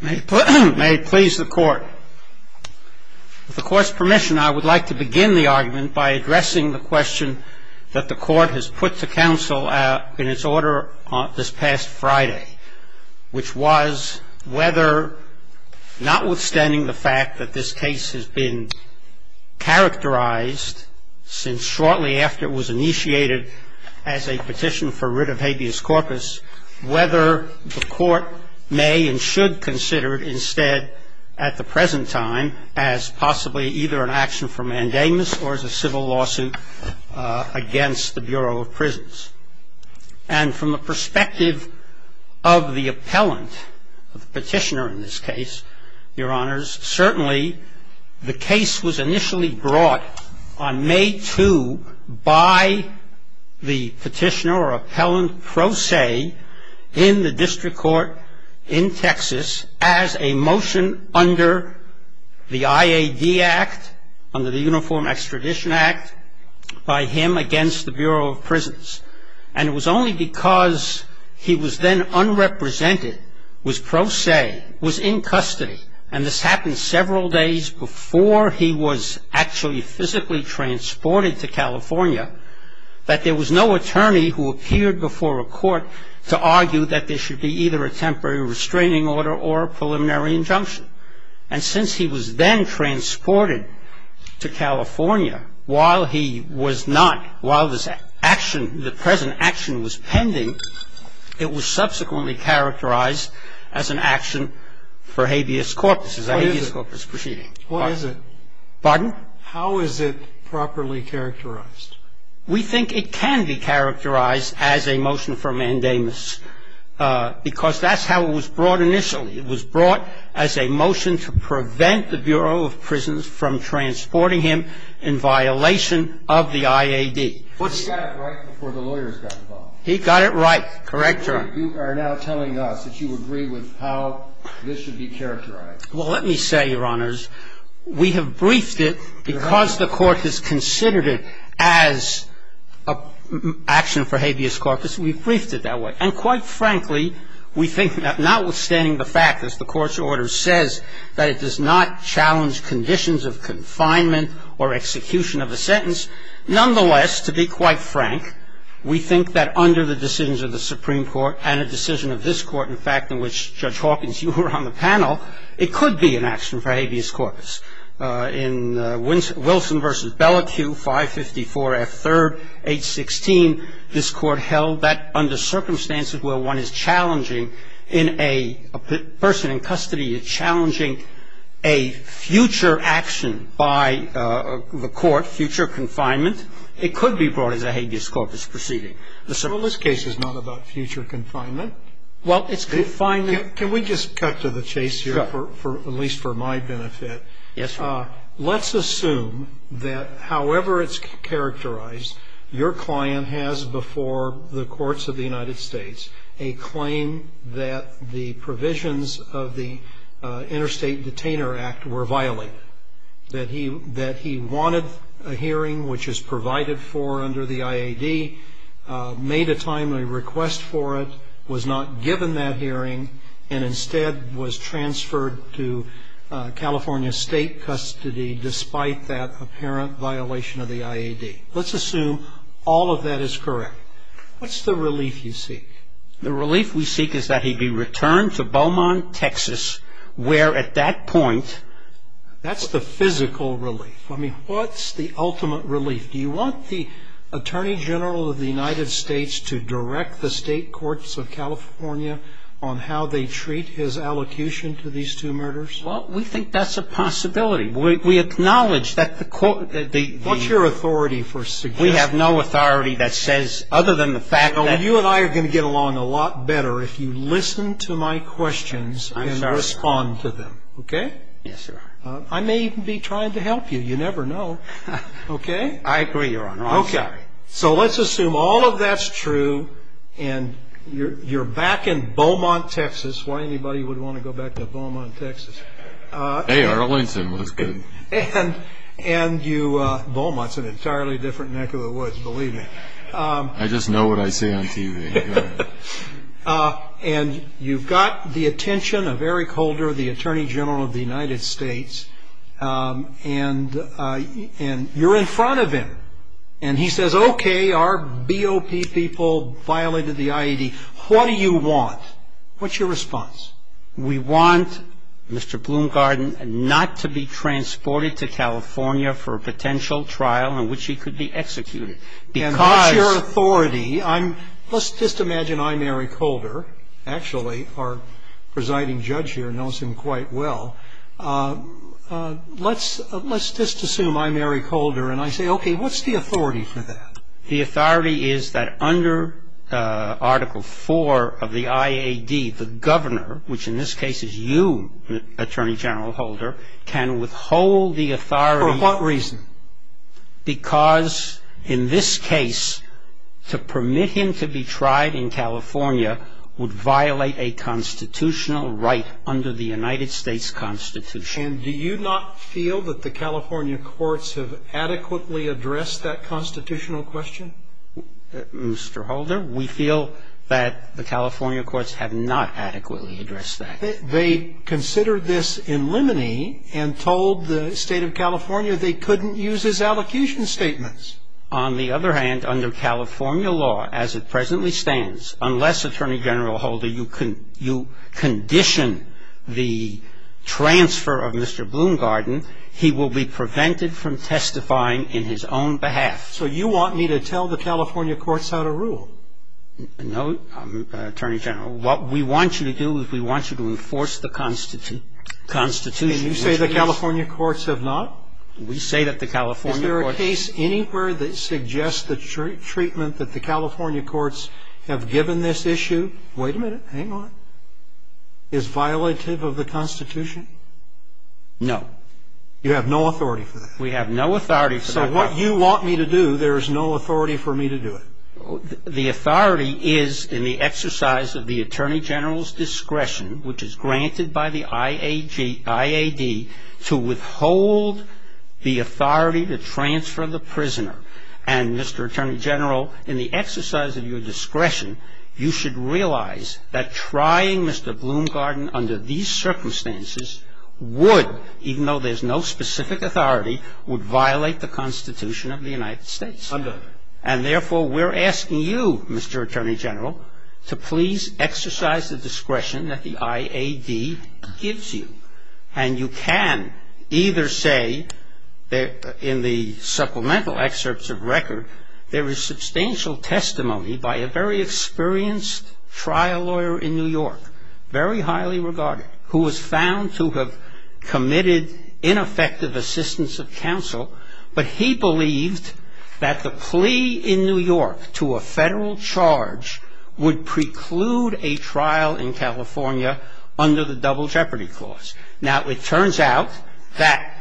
May it please the Court. With the Court's permission, I would like to begin the argument by addressing the question that the Court has put to Council in its order this past Friday, which was whether, notwithstanding the fact that this case has been characterized since shortly after it was initiated as a petition for writ of habeas corpus, whether the Court may and should consider it instead at the present time as possibly either an action for mandamus or as a civil lawsuit against the Bureau of Prisons. And from the perspective of the appellant, of the petitioner in this case, Your Honors, certainly the case was initially brought on May 2 by the petitioner or appellant pro se in the District Court in Texas as a motion under the IAD Act, under the Uniform Extradition Act, by him against the Bureau of Prisons. And it was only because he was then unrepresented, was pro se, was in custody, and this happened several days before he was actually physically transported to California, that there was no attorney who appeared before a court to argue that there should be either a temporary restraining order or a preliminary injunction. And since he was then transported to California, while he was not, while this action, the present action was pending, it was subsequently characterized as an action for habeas corpus, as a habeas corpus proceeding. What is it? Pardon? How is it properly characterized? We think it can be characterized as a motion for mandamus, because that's how it was brought initially. It was brought as a motion to prevent the Bureau of Prisons from transporting him in violation of the IAD. He got it right before the lawyers got involved. He got it right. Correct, Your Honor. You are now telling us that you agree with how this should be characterized. Well, let me say, Your Honors, we have briefed it because the Court has considered it as an action for habeas corpus. We've briefed it that way. And quite frankly, we think that notwithstanding the fact that the Court's order says that it does not challenge conditions of confinement or execution of a sentence, nonetheless, to be quite frank, we think that under the decisions of the Supreme Court and a decision of this Court, in fact, in which Judge Hawkins, you were on the panel, it could be an action for habeas corpus. In Wilson v. Bellicue, 554F3rd, H16, this Court held that under circumstances where one is challenging in a person in custody, you're challenging a future action by the Court, future confinement, it could be brought as a habeas corpus proceeding. Well, this case is not about future confinement. Well, it's confinement. Can we just cut to the chase here, at least for my benefit? Yes, sir. Let's assume that however it's characterized, your client has before the courts of the United States a claim that the provisions of the Interstate Detainer Act were violated, that he wanted a hearing which is provided for under the IAD, made a timely request for it, was not given that hearing, and instead was transferred to California State custody despite that apparent violation of the IAD. Let's assume all of that is correct. What's the relief you seek? The relief we seek is that he be returned to Beaumont, Texas, where at that point... That's the physical relief. I mean, what's the ultimate relief? Do you want the Attorney General of the United States to direct the state courts of California on how they treat his allocution to these two murders? Well, we think that's a possibility. We acknowledge that the court... What's your authority for suggesting... We have no authority that says other than the fact that... ...it would go along a lot better if you listen to my questions and respond to them. Okay? Yes, sir. I may even be trying to help you. You never know. Okay? I agree, Your Honor. Okay. So let's assume all of that's true and you're back in Beaumont, Texas. Why anybody would want to go back to Beaumont, Texas? Hey, Arlington looks good. And you... Beaumont's an entirely different neck of the woods, believe me. I just know what I say on TV. And you've got the attention of Eric Holder, the Attorney General of the United States, and you're in front of him. And he says, okay, our BOP people violated the IED. What do you want? What's your response? We want Mr. Bloomgarden not to be transported to California for a potential trial in which he could be executed. Because... And what's your authority? Let's just imagine I'm Eric Holder. Actually, our presiding judge here knows him quite well. Let's just assume I'm Eric Holder and I say, okay, what's the authority for that? The authority is that under Article 4 of the IED, the governor, which in this case is you, Attorney General Holder, can withhold the authority... For what reason? Because in this case, to permit him to be tried in California would violate a constitutional right under the United States Constitution. And do you not feel that the California courts have adequately addressed that constitutional question? Mr. Holder, we feel that the California courts have not adequately addressed that. They considered this in limine and told the State of California they couldn't use his allocution statements. On the other hand, under California law as it presently stands, unless, Attorney General Holder, you condition the transfer of Mr. Bloomgarden, he will be prevented from testifying in his own behalf. So you want me to tell the California courts how to rule? No, Attorney General. What we want you to do is we want you to enforce the Constitution. And you say the California courts have not? We say that the California courts... Is there a case anywhere that suggests the treatment that the California courts have given this issue? Wait a minute. Hang on. Is violative of the Constitution? No. You have no authority for that? We have no authority for that. So what you want me to do, there is no authority for me to do it? The authority is in the exercise of the Attorney General's discretion, which is granted by the IAD, to withhold the authority to transfer the prisoner. And, Mr. Attorney General, in the exercise of your discretion, you should realize that trying Mr. Bloomgarden under these circumstances would, even though there's no specific authority, would violate the Constitution of the United States. And, therefore, we're asking you, Mr. Attorney General, to please exercise the discretion that the IAD gives you. And you can either say that in the supplemental excerpts of record, there is substantial testimony by a very experienced trial lawyer in New York, very highly regarded, who was found to have committed ineffective assistance of counsel, but he believed that the plea in New York to a Federal charge would preclude a trial in California under the Double Jeopardy Clause. Now, it turns out that,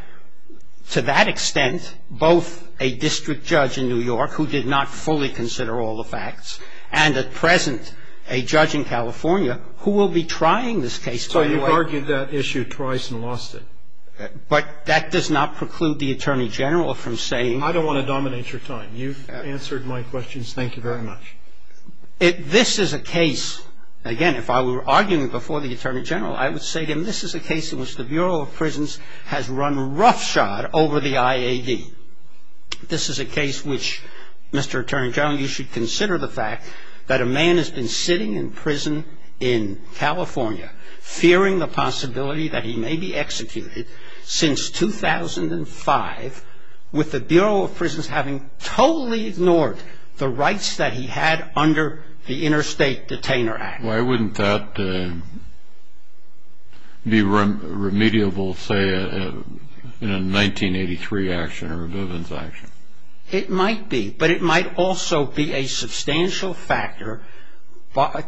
to that extent, both a district judge in New York, who did not fully consider all the facts, and, at present, a judge in California, who will be trying this case. So you've argued that issue twice and lost it? But that does not preclude the Attorney General from saying I don't want to dominate your time. You've answered my questions. Thank you very much. This is a case, again, if I were arguing before the Attorney General, I would say to him this is a case in which the Bureau of Prisons has run roughshod over the IAD. This is a case which, Mr. Attorney General, you should consider the fact that a man has been sitting in prison in California, fearing the possibility that he may be executed since 2005, with the Bureau of Prisons having totally ignored the rights that he had under the Interstate Detainer Act. Why wouldn't that be remediable, say, in a 1983 action or a Bivens action? It might be. But it might also be a substantial factor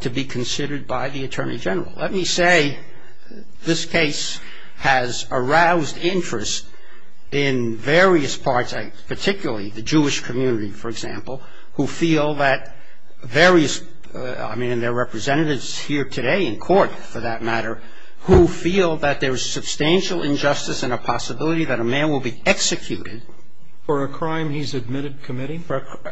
to be considered by the Attorney General. Let me say this case has aroused interest in various parts, particularly the Jewish community, for example, who feel that various, I mean, their representatives here today in court, for that matter, who feel that there's substantial injustice and a possibility that a man will be executed. For a crime he's admitted committing?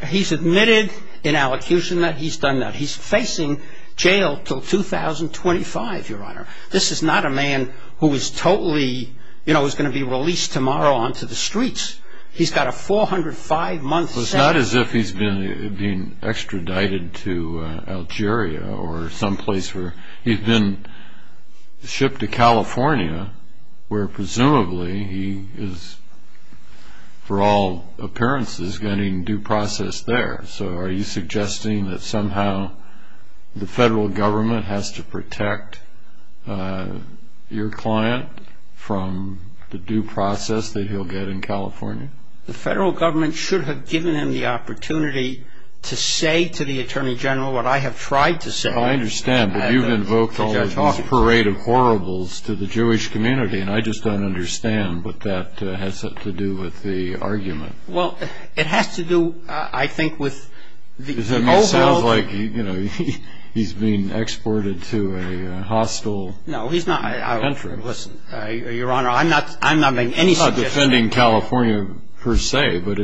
He's admitted in allocution that he's done that. He's facing jail until 2025, Your Honor. This is not a man who is totally, you know, is going to be released tomorrow onto the streets. He's got a 405-month sentence. It's not as if he's been extradited to Algeria or someplace where he's been shipped to California, where presumably he is, for all appearances, getting due process there. So are you suggesting that somehow the federal government has to protect your client from the due process that he'll get in California? The federal government should have given him the opportunity to say to the Attorney General what I have tried to say. I understand, but you've invoked all this parade of horribles to the Jewish community, and I just don't understand what that has to do with the argument. Well, it has to do, I think, with the overall... It sounds like, you know, he's being exported to a hostile country. No, he's not. Listen, Your Honor, I'm not making any suggestions. I'm not defending California per se, but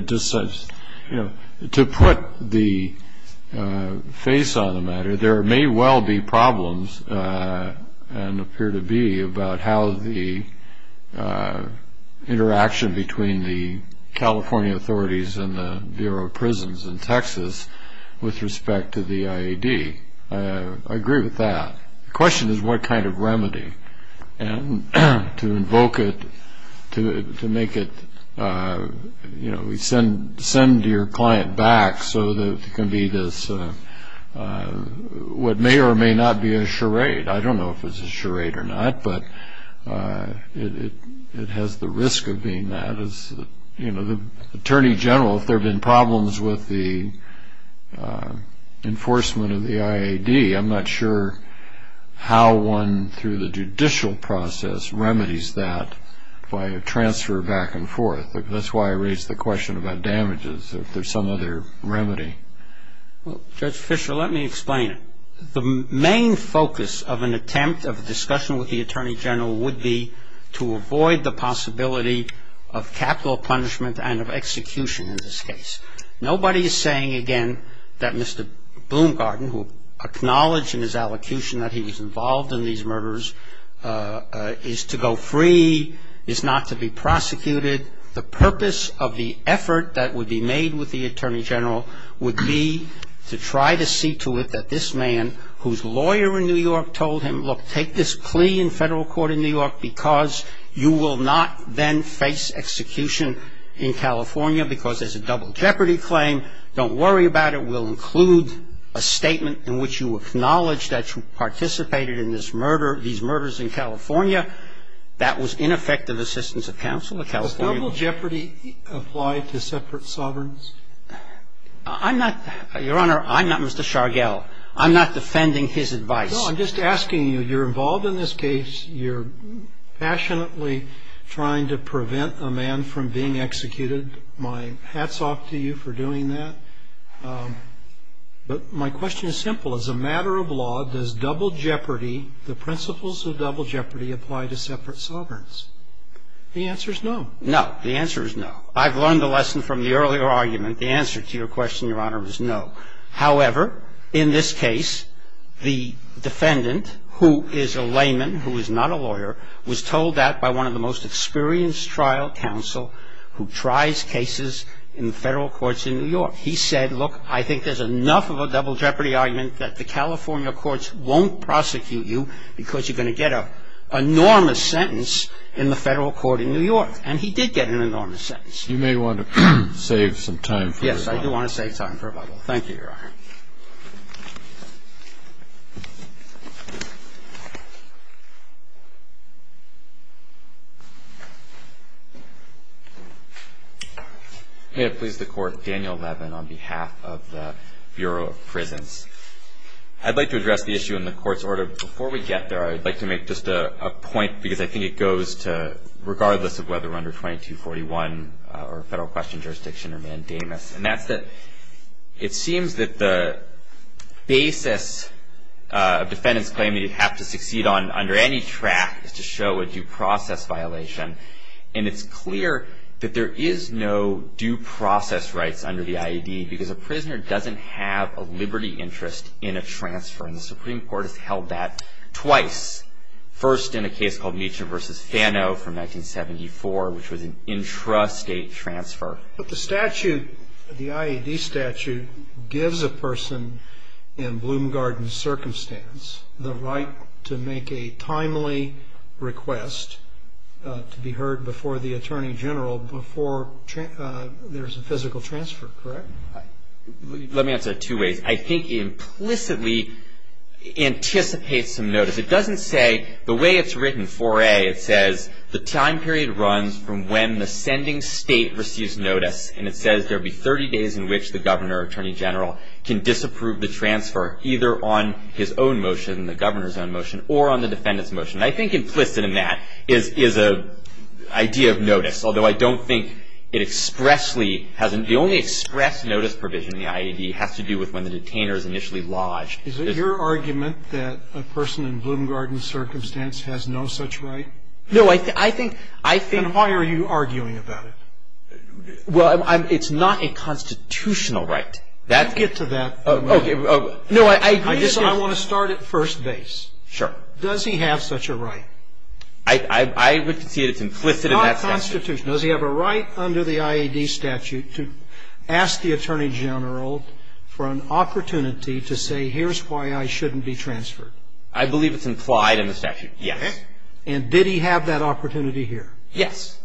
to put the face on the matter, there may well be problems, and appear to be, about how the interaction between the California authorities and the Bureau of Prisons in Texas with respect to the IAD. I agree with that. The question is what kind of remedy, and to invoke it, to make it, you know, send your client back so that it can be this, what may or may not be a charade. I don't know if it's a charade or not, but it has the risk of being that. You know, the Attorney General, if there have been problems with the enforcement of the IAD, I'm not sure how one, through the judicial process, remedies that by a transfer back and forth. That's why I raised the question about damages, if there's some other remedy. Judge Fischer, let me explain it. The main focus of an attempt of discussion with the Attorney General would be to avoid the possibility of capital punishment and of execution in this case. Nobody is saying, again, that Mr. Bloomgarden, who acknowledged in his allocution that he was involved in these murders, is to go free, is not to be prosecuted. The purpose of the effort that would be made with the Attorney General would be to try to see to it that this man, whose lawyer in New York told him, look, take this plea in federal court in New York, because you will not then face execution in California because there's a double jeopardy claim. Don't worry about it. We'll include a statement in which you acknowledge that you participated in this murder, these murders in California. That was ineffective assistance of counsel in California. Has double jeopardy applied to separate sovereigns? I'm not, Your Honor, I'm not Mr. Shargell. I'm not defending his advice. No, I'm just asking you, you're involved in this case. You're passionately trying to prevent a man from being executed. My hat's off to you for doing that. But my question is simple. As a matter of law, does double jeopardy, the principles of double jeopardy, apply to separate sovereigns? The answer is no. No. The answer is no. I've learned the lesson from the earlier argument. The answer to your question, Your Honor, was no. However, in this case, the defendant, who is a layman, who is not a lawyer, was told that by one of the most experienced trial counsel who tries cases in federal courts in New York. He said, look, I think there's enough of a double jeopardy argument that the California courts won't prosecute you because you're going to get an enormous sentence in the federal court in New York. And he did get an enormous sentence. You may want to save some time for it. Thank you, Your Honor. May it please the Court, Daniel Levin on behalf of the Bureau of Prisons. I'd like to address the issue in the court's order. Before we get there, I would like to make just a point because I think it goes to, regardless of whether we're under 2241 or federal question jurisdiction or mandamus, and that's that it seems that the basis defendants claim that you'd have to succeed on under any track is to show a due process violation. And it's clear that there is no due process rights under the IED because a prisoner doesn't have a liberty interest in a transfer. And the Supreme Court has held that twice, first in a case called Meacham v. Fano from 1974, which was an intrastate transfer. But the statute, the IED statute, gives a person in Bloom Garden's circumstance the right to make a timely request to be heard before the attorney general before there's a physical transfer, correct? Let me answer it two ways. I think it implicitly anticipates some notice. It doesn't say, the way it's written, 4A, it says, the time period runs from when the sending state receives notice. And it says there will be 30 days in which the governor or attorney general can disapprove the transfer, either on his own motion, the governor's own motion, or on the defendant's motion. I think implicit in that is an idea of notice, although I don't think it expressly has an ‑‑ the only express notice provision in the IED has to do with when the detainer is initially lodged. Is it your argument that a person in Bloom Garden's circumstance has no such right? No. I think ‑‑ I think ‑‑ Then why are you arguing about it? Well, I'm ‑‑ it's not a constitutional right. That's ‑‑ Get to that. Okay. No, I agree. I want to start at first base. Sure. Does he have such a right? I would see it as implicit in that statute. It's not constitutional. Does he have a right under the IED statute to ask the attorney general for an opportunity to say, here's why I shouldn't be transferred? I believe it's implied in the statute, yes. Okay. And did he have that opportunity here? Yes.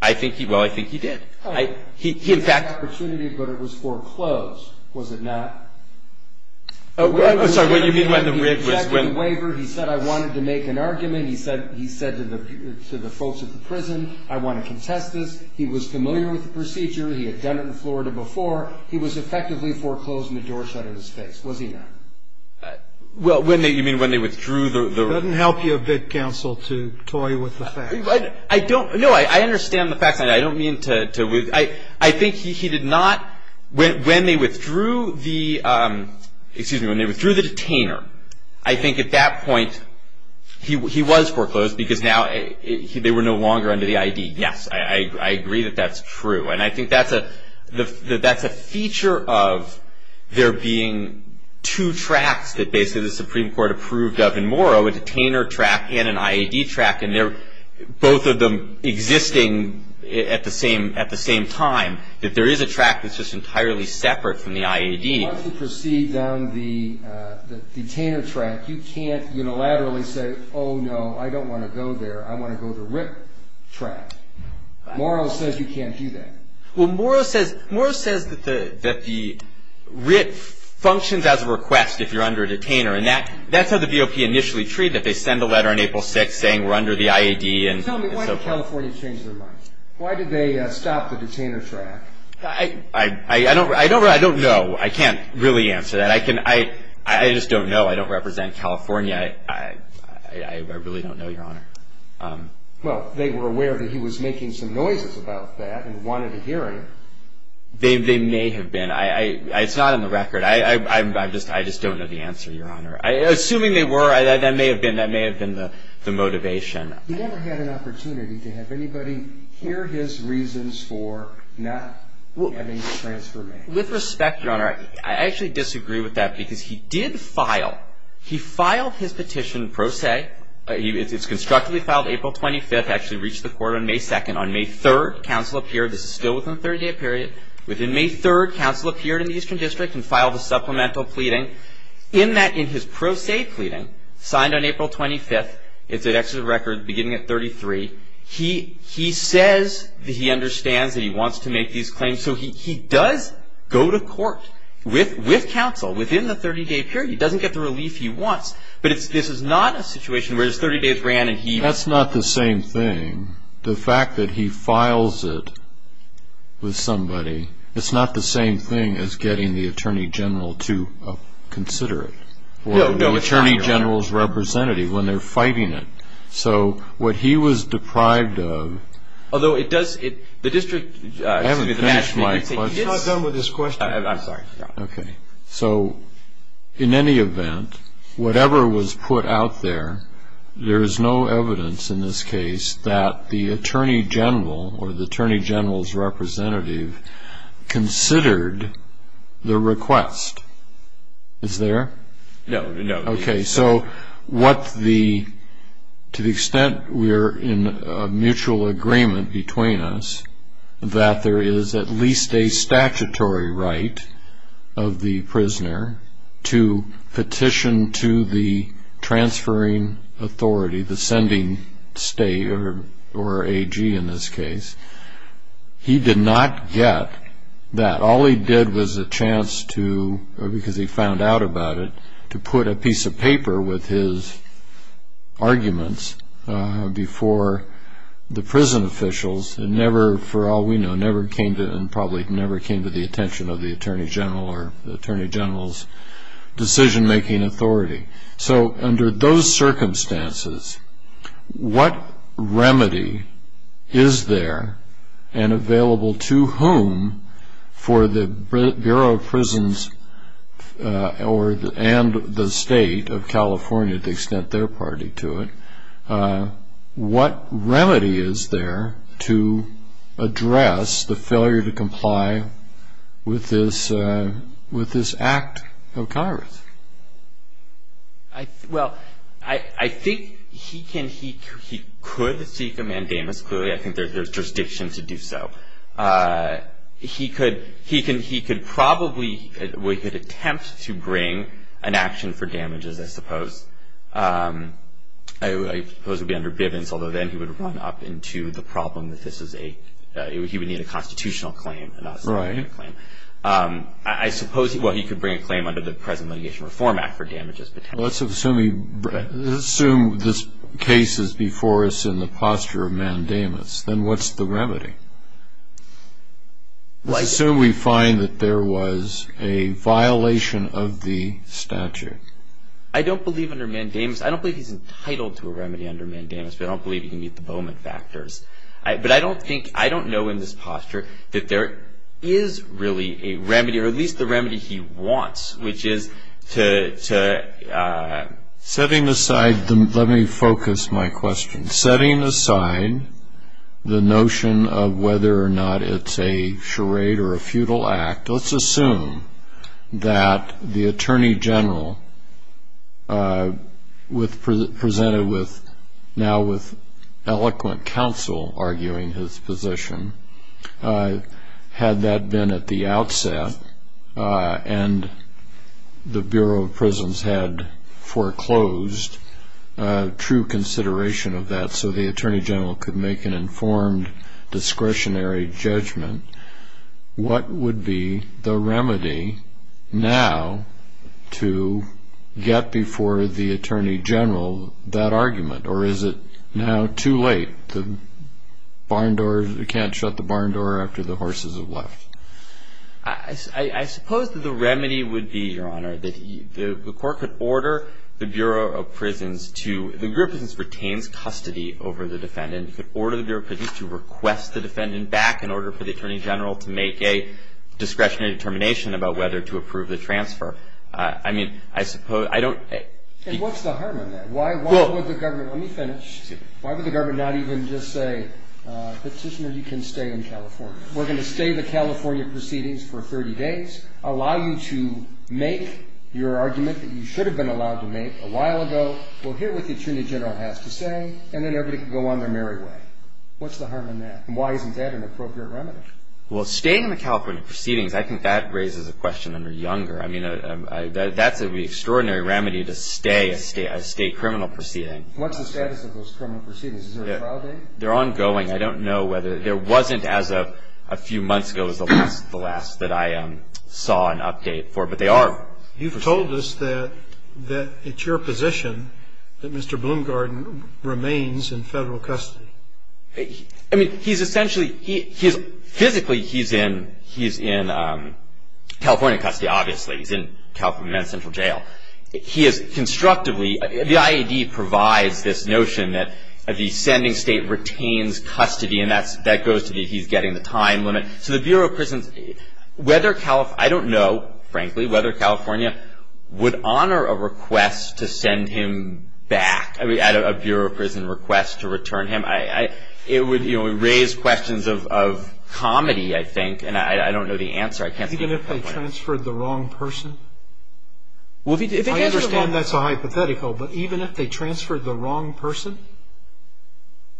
I think he ‑‑ well, I think he did. He, in fact He had that opportunity, but it was foreclosed, was it not? Oh, sorry, what you mean by the rig was when He rejected the waiver. He said, I wanted to make an argument. He said to the folks at the prison, I want to contest this. He was familiar with the procedure. He had done it in Florida before. He was effectively foreclosing the door shut in his face, was he not? Well, when they ‑‑ you mean when they withdrew the Doesn't help you a bit, counsel, to toy with the facts. I don't, no, I understand the facts. I don't mean to, I think he did not, when they withdrew the, excuse me, when they withdrew the detainer, I think at that point he was foreclosed because now they were no longer under the IED. Yes, I agree that that's true. And I think that's a feature of there being two tracks that basically the Supreme Court approved of in Morrow, a detainer track and an IED track, and both of them existing at the same time, that there is a track that's just entirely separate from the IED. Once you proceed down the detainer track, you can't unilaterally say, oh, no, I don't want to go there. I want to go to the RIP track. Morrow says you can't do that. Well, Morrow says that the RIP functions as a request if you're under a detainer, and that's how the VOP initially treated it. They send a letter on April 6th saying we're under the IED. Tell me, why did California change their mind? Why did they stop the detainer track? I don't know. I can't really answer that. I just don't know. I don't represent California. I really don't know, Your Honor. Well, they were aware that he was making some noises about that and wanted a hearing. They may have been. It's not on the record. I just don't know the answer, Your Honor. Assuming they were, that may have been the motivation. He never had an opportunity to have anybody hear his reasons for not having the transfer made. With respect, Your Honor, I actually disagree with that because he did file. He filed his petition pro se. It's constructively filed April 25th, actually reached the court on May 2nd. On May 3rd, counsel appeared. This is still within the 30-day period. Within May 3rd, counsel appeared in the Eastern District and filed a supplemental pleading. In that, in his pro se pleading, signed on April 25th, it's an executive record beginning at 33, he says that he understands that he wants to make these claims. So he does go to court with counsel within the 30-day period. He doesn't get the relief he wants. But this is not a situation where it's 30 days ran and he. That's not the same thing. The fact that he files it with somebody, it's not the same thing as getting the attorney general to consider it. No, no, it's not, Your Honor. Or the attorney general's representative when they're fighting it. So what he was deprived of. Although it does, the district. I haven't finished my. You're not done with this question. I'm sorry. Okay. So in any event, whatever was put out there, there is no evidence in this case that the attorney general or the attorney general's representative considered the request. Is there? No. Okay. So what the, to the extent we are in a mutual agreement between us, that there is at least a statutory right of the prisoner to petition to the transferring authority, the sending state or AG in this case. He did not get that. All he did was a chance to, because he found out about it, to put a piece of paper with his arguments before the prison officials. It never, for all we know, never came to, and probably never came to the attention of the attorney general or the attorney general's decision-making authority. So under those circumstances, what remedy is there and available to whom for the Bureau of Prisons and the state of California, to the extent their party to it, what remedy is there to address the failure to comply with this Act of Congress? Well, I think he can, he could seek a mandamus. Clearly, I think there's jurisdiction to do so. He could probably, we could attempt to bring an action for damages, I suppose. I suppose it would be under Bivens, although then he would run up into the problem that this is a, he would need a constitutional claim and not a statutory claim. Right. I suppose, well, he could bring a claim under the present litigation reform act for damages. Let's assume this case is before us in the posture of mandamus. Then what's the remedy? Let's assume we find that there was a violation of the statute. I don't believe under mandamus, I don't believe he's entitled to a remedy under mandamus, but I don't believe he can meet the Bowman factors. But I don't think, I don't know in this posture that there is really a remedy, or at least the remedy he wants, which is to... Setting aside, let me focus my question. Setting aside the notion of whether or not it's a charade or a futile act, let's assume that the attorney general presented with, now with eloquent counsel arguing his position, had that been at the outset and the Bureau of Prisons had foreclosed true consideration of that so the attorney general could make an informed discretionary judgment, what would be the remedy now to get before the attorney general that argument? Or is it now too late? The barn doors, you can't shut the barn door after the horses have left. I suppose that the remedy would be, Your Honor, that the court could order the Bureau of Prisons to... to request the defendant back in order for the attorney general to make a discretionary determination about whether to approve the transfer. I mean, I suppose, I don't... And what's the harm in that? Why would the government, let me finish. Why would the government not even just say, Petitioner, you can stay in California. We're going to stay the California proceedings for 30 days, allow you to make your argument that you should have been allowed to make a while ago, we'll hear what the attorney general has to say, and then everybody can go on their merry way. What's the harm in that? And why isn't that an appropriate remedy? Well, staying in the California proceedings, I think that raises a question under Younger. I mean, that's an extraordinary remedy to stay a state criminal proceeding. What's the status of those criminal proceedings? Is there a trial date? They're ongoing. I don't know whether... There wasn't as of a few months ago as the last that I saw an update for, but they are... It's your position that Mr. Bloomgarden remains in federal custody. I mean, he's essentially... Physically, he's in California custody, obviously. He's in California Central Jail. He has constructively... The IAD provides this notion that the sending state retains custody, and that goes to the he's getting the time limit. So the Bureau of Prisons... Whether California... I don't know, frankly, whether California would honor a request to send him back. I mean, a Bureau of Prison request to return him. It would raise questions of comedy, I think, and I don't know the answer. I can't... Even if they transferred the wrong person? I understand that's a hypothetical, but even if they transferred the wrong person?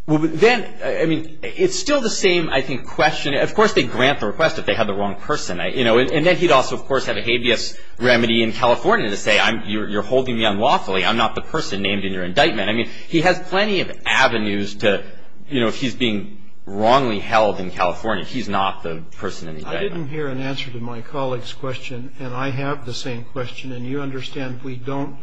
Well, then... I mean, it's still the same, I think, question. I mean, of course they grant the request if they have the wrong person. You know, and then he'd also, of course, have a habeas remedy in California to say, you're holding me unlawfully. I'm not the person named in your indictment. I mean, he has plenty of avenues to... You know, if he's being wrongly held in California, he's not the person in the indictment. I didn't hear an answer to my colleague's question, and I have the same question. And you understand we don't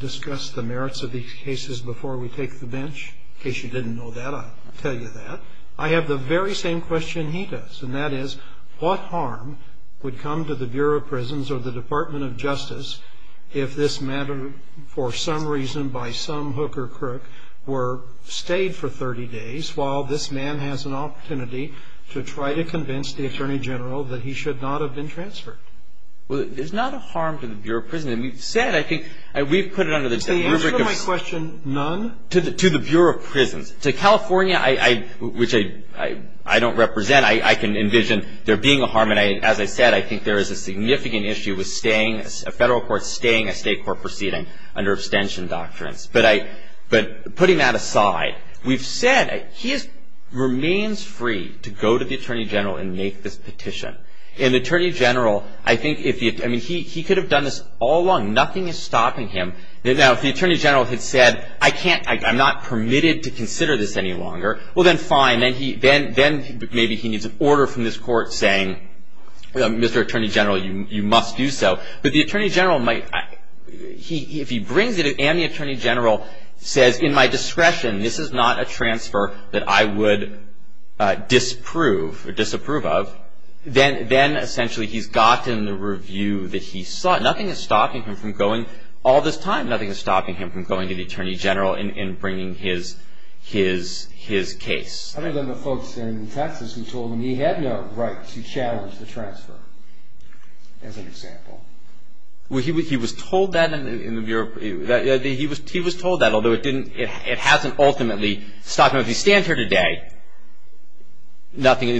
discuss the merits of these cases before we take the bench? In case you didn't know that, I'll tell you that. I have the very same question he does, and that is, what harm would come to the Bureau of Prisons or the Department of Justice if this matter for some reason by some hook or crook were stayed for 30 days while this man has an opportunity to try to convince the Attorney General that he should not have been transferred? Well, there's not a harm to the Bureau of Prisons. We've said, I think, we've put it under the rubric of... To the answer to my question, none? To the Bureau of Prisons. To California, which I don't represent, I can envision there being a harm. And as I said, I think there is a significant issue with a federal court staying a state court proceeding under abstention doctrines. But putting that aside, we've said he remains free to go to the Attorney General and make this petition. And the Attorney General, I think, I mean, he could have done this all along. Nothing is stopping him. Now, if the Attorney General had said, I can't... I'm not permitted to consider this any longer. Well, then fine. Then maybe he needs an order from this court saying, Mr. Attorney General, you must do so. But the Attorney General might... If he brings it and the Attorney General says, in my discretion, this is not a transfer that I would disprove or disapprove of, then essentially he's gotten the review that he sought. Nothing is stopping him from going all this time. Nothing is stopping him from going to the Attorney General and bringing his case. Other than the folks in Texas who told him he had no right to challenge the transfer, as an example. Well, he was told that in the Bureau... He was told that, although it hasn't ultimately stopped him. If he stands here today, nothing...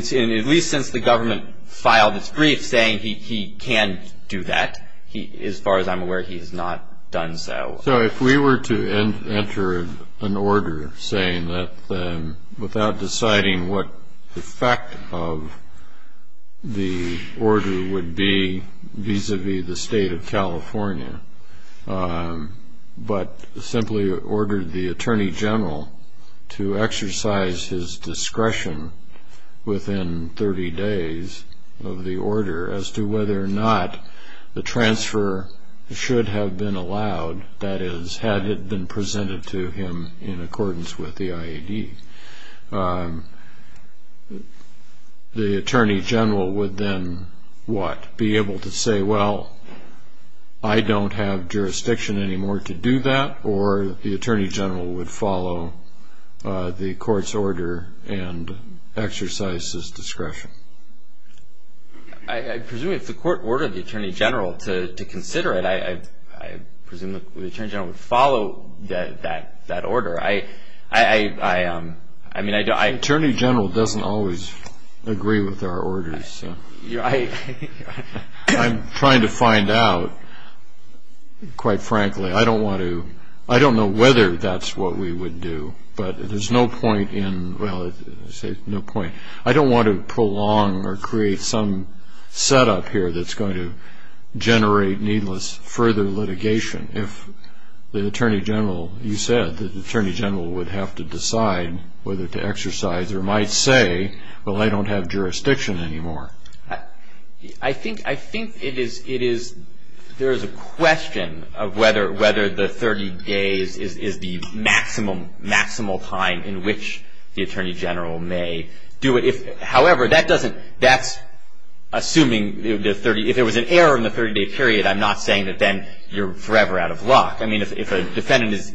As far as I'm aware, he has not done so. So if we were to enter an order saying that without deciding what effect of the order would be vis-à-vis the State of California, but simply ordered the Attorney General to exercise his discretion within 30 days of the order as to whether or not the transfer should have been allowed, that is, had it been presented to him in accordance with the IAD, the Attorney General would then what? Be able to say, well, I don't have jurisdiction anymore to do that, or the Attorney General would follow the court's order and exercise his discretion? I presume if the court ordered the Attorney General to consider it, I presume the Attorney General would follow that order. The Attorney General doesn't always agree with our orders. I'm trying to find out, quite frankly. I don't know whether that's what we would do, but there's no point in... Well, I say no point. I don't want to prolong or create some setup here that's going to generate needless further litigation. If the Attorney General, you said the Attorney General would have to decide whether to exercise or might say, well, I don't have jurisdiction anymore. I think it is... there is a question of whether the 30 days is the maximum time in which the Attorney General may do it. However, that doesn't... that's assuming... if there was an error in the 30-day period, I'm not saying that then you're forever out of luck. I mean, if a defendant is...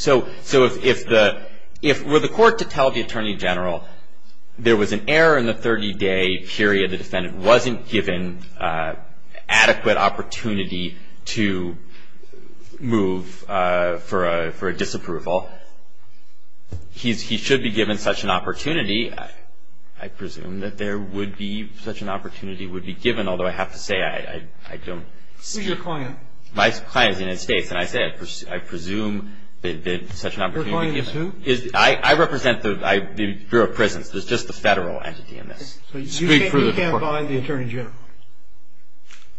So if the... were the court to tell the Attorney General there was an error in the 30-day period, the defendant wasn't given adequate opportunity to move for a disapproval, he should be given such an opportunity. I presume that there would be such an opportunity would be given, although I have to say I don't... Who's your client? My client is the United States, and I say I presume that such an opportunity would be given. Your client is who? I represent the Bureau of Prisons. There's just the Federal entity in this. So you can't buy the Attorney General?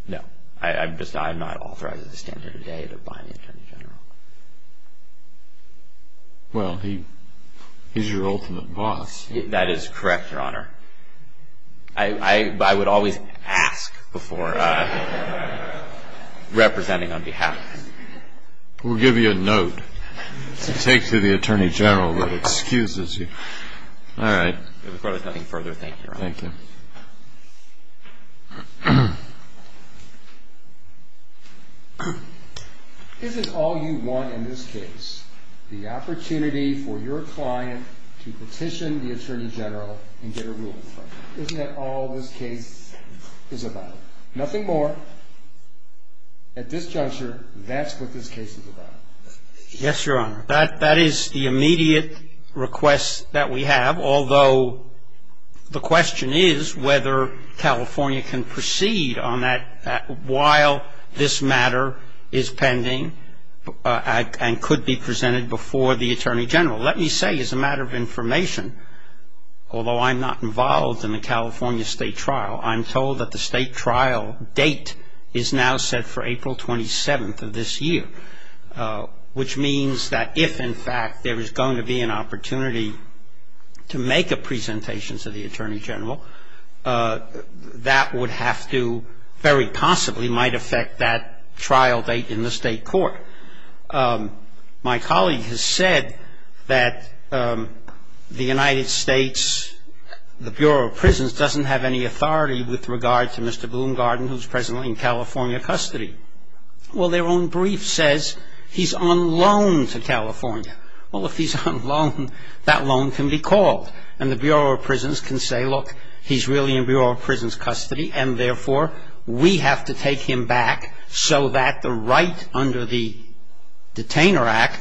No. I'm just... I'm not authorized to stand here today to buy the Attorney General. Well, he's your ultimate boss. That is correct, Your Honor. I would always ask before representing on behalf. We'll give you a note to take to the Attorney General that excuses you. All right. If there's nothing further, thank you, Your Honor. Thank you. Isn't all you want in this case the opportunity for your client to petition the Attorney General and get a ruling from him? Isn't that all this case is about? Nothing more. At this juncture, that's what this case is about. Yes, Your Honor. That is the immediate request that we have, although the question is whether California can proceed on that while this matter is pending and could be presented before the Attorney General. Let me say as a matter of information, although I'm not involved in the California state trial, I'm told that the state trial date is now set for April 27th of this year, which means that if, in fact, there is going to be an opportunity to make a presentation to the Attorney General, that would have to very possibly might affect that trial date in the state court. My colleague has said that the United States, the Bureau of Prisons, doesn't have any authority with regard to Mr. Bloomgarden, who's presently in California custody. Well, their own brief says he's on loan to California. Well, if he's on loan, that loan can be called. And the Bureau of Prisons can say, look, he's really in Bureau of Prisons custody, and therefore we have to take him back so that the right under the Detainer Act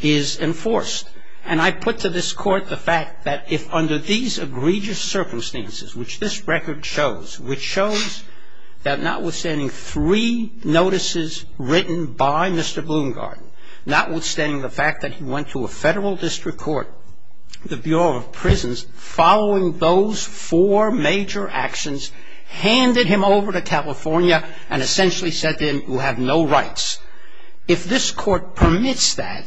is enforced. And I put to this court the fact that if under these egregious circumstances, which this record shows, which shows that notwithstanding three notices written by Mr. Bloomgarden, notwithstanding the fact that he went to a federal district court, the Bureau of Prisons, following those four major actions, handed him over to California and essentially said to him, you have no rights. If this court permits that,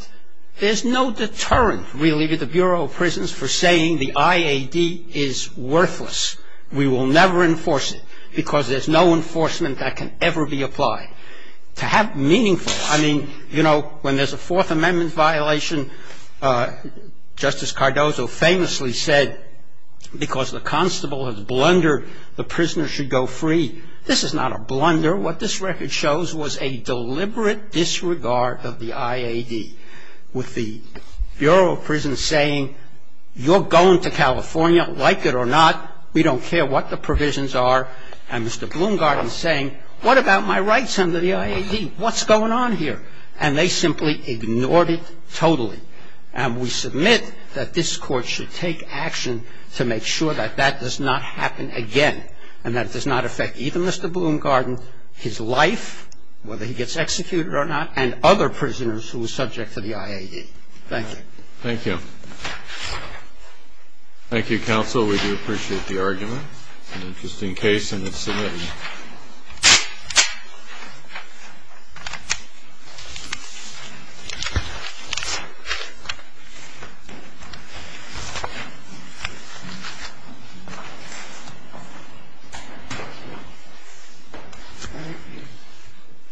there's no deterrent, really, to the Bureau of Prisons for saying the IAD is worthless. We will never enforce it because there's no enforcement that can ever be applied. To have meaningful, I mean, you know, when there's a Fourth Amendment violation, Justice Cardozo famously said, because the constable has blundered, the prisoner should go free. This is not a blunder. What this record shows was a deliberate disregard of the IAD with the Bureau of Prisons saying, you're going to California, like it or not, we don't care what the provisions are. And Mr. Bloomgarden is saying, what about my rights under the IAD? What's going on here? And they simply ignored it totally. And we submit that this Court should take action to make sure that that does not happen again and that it does not affect even Mr. Bloomgarden, his life, whether he gets executed or not, and other prisoners who are subject to the IAD. Thank you. Thank you. Thank you, Counsel. We do appreciate the argument. It's an interesting case, and it's submitted. Thank you.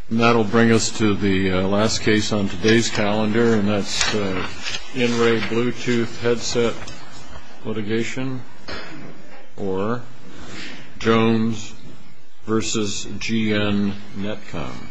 And that will bring us to the last case on today's calendar, and that's the In-Ray Bluetooth Headset litigation, or Jones v. G.N. Netcom.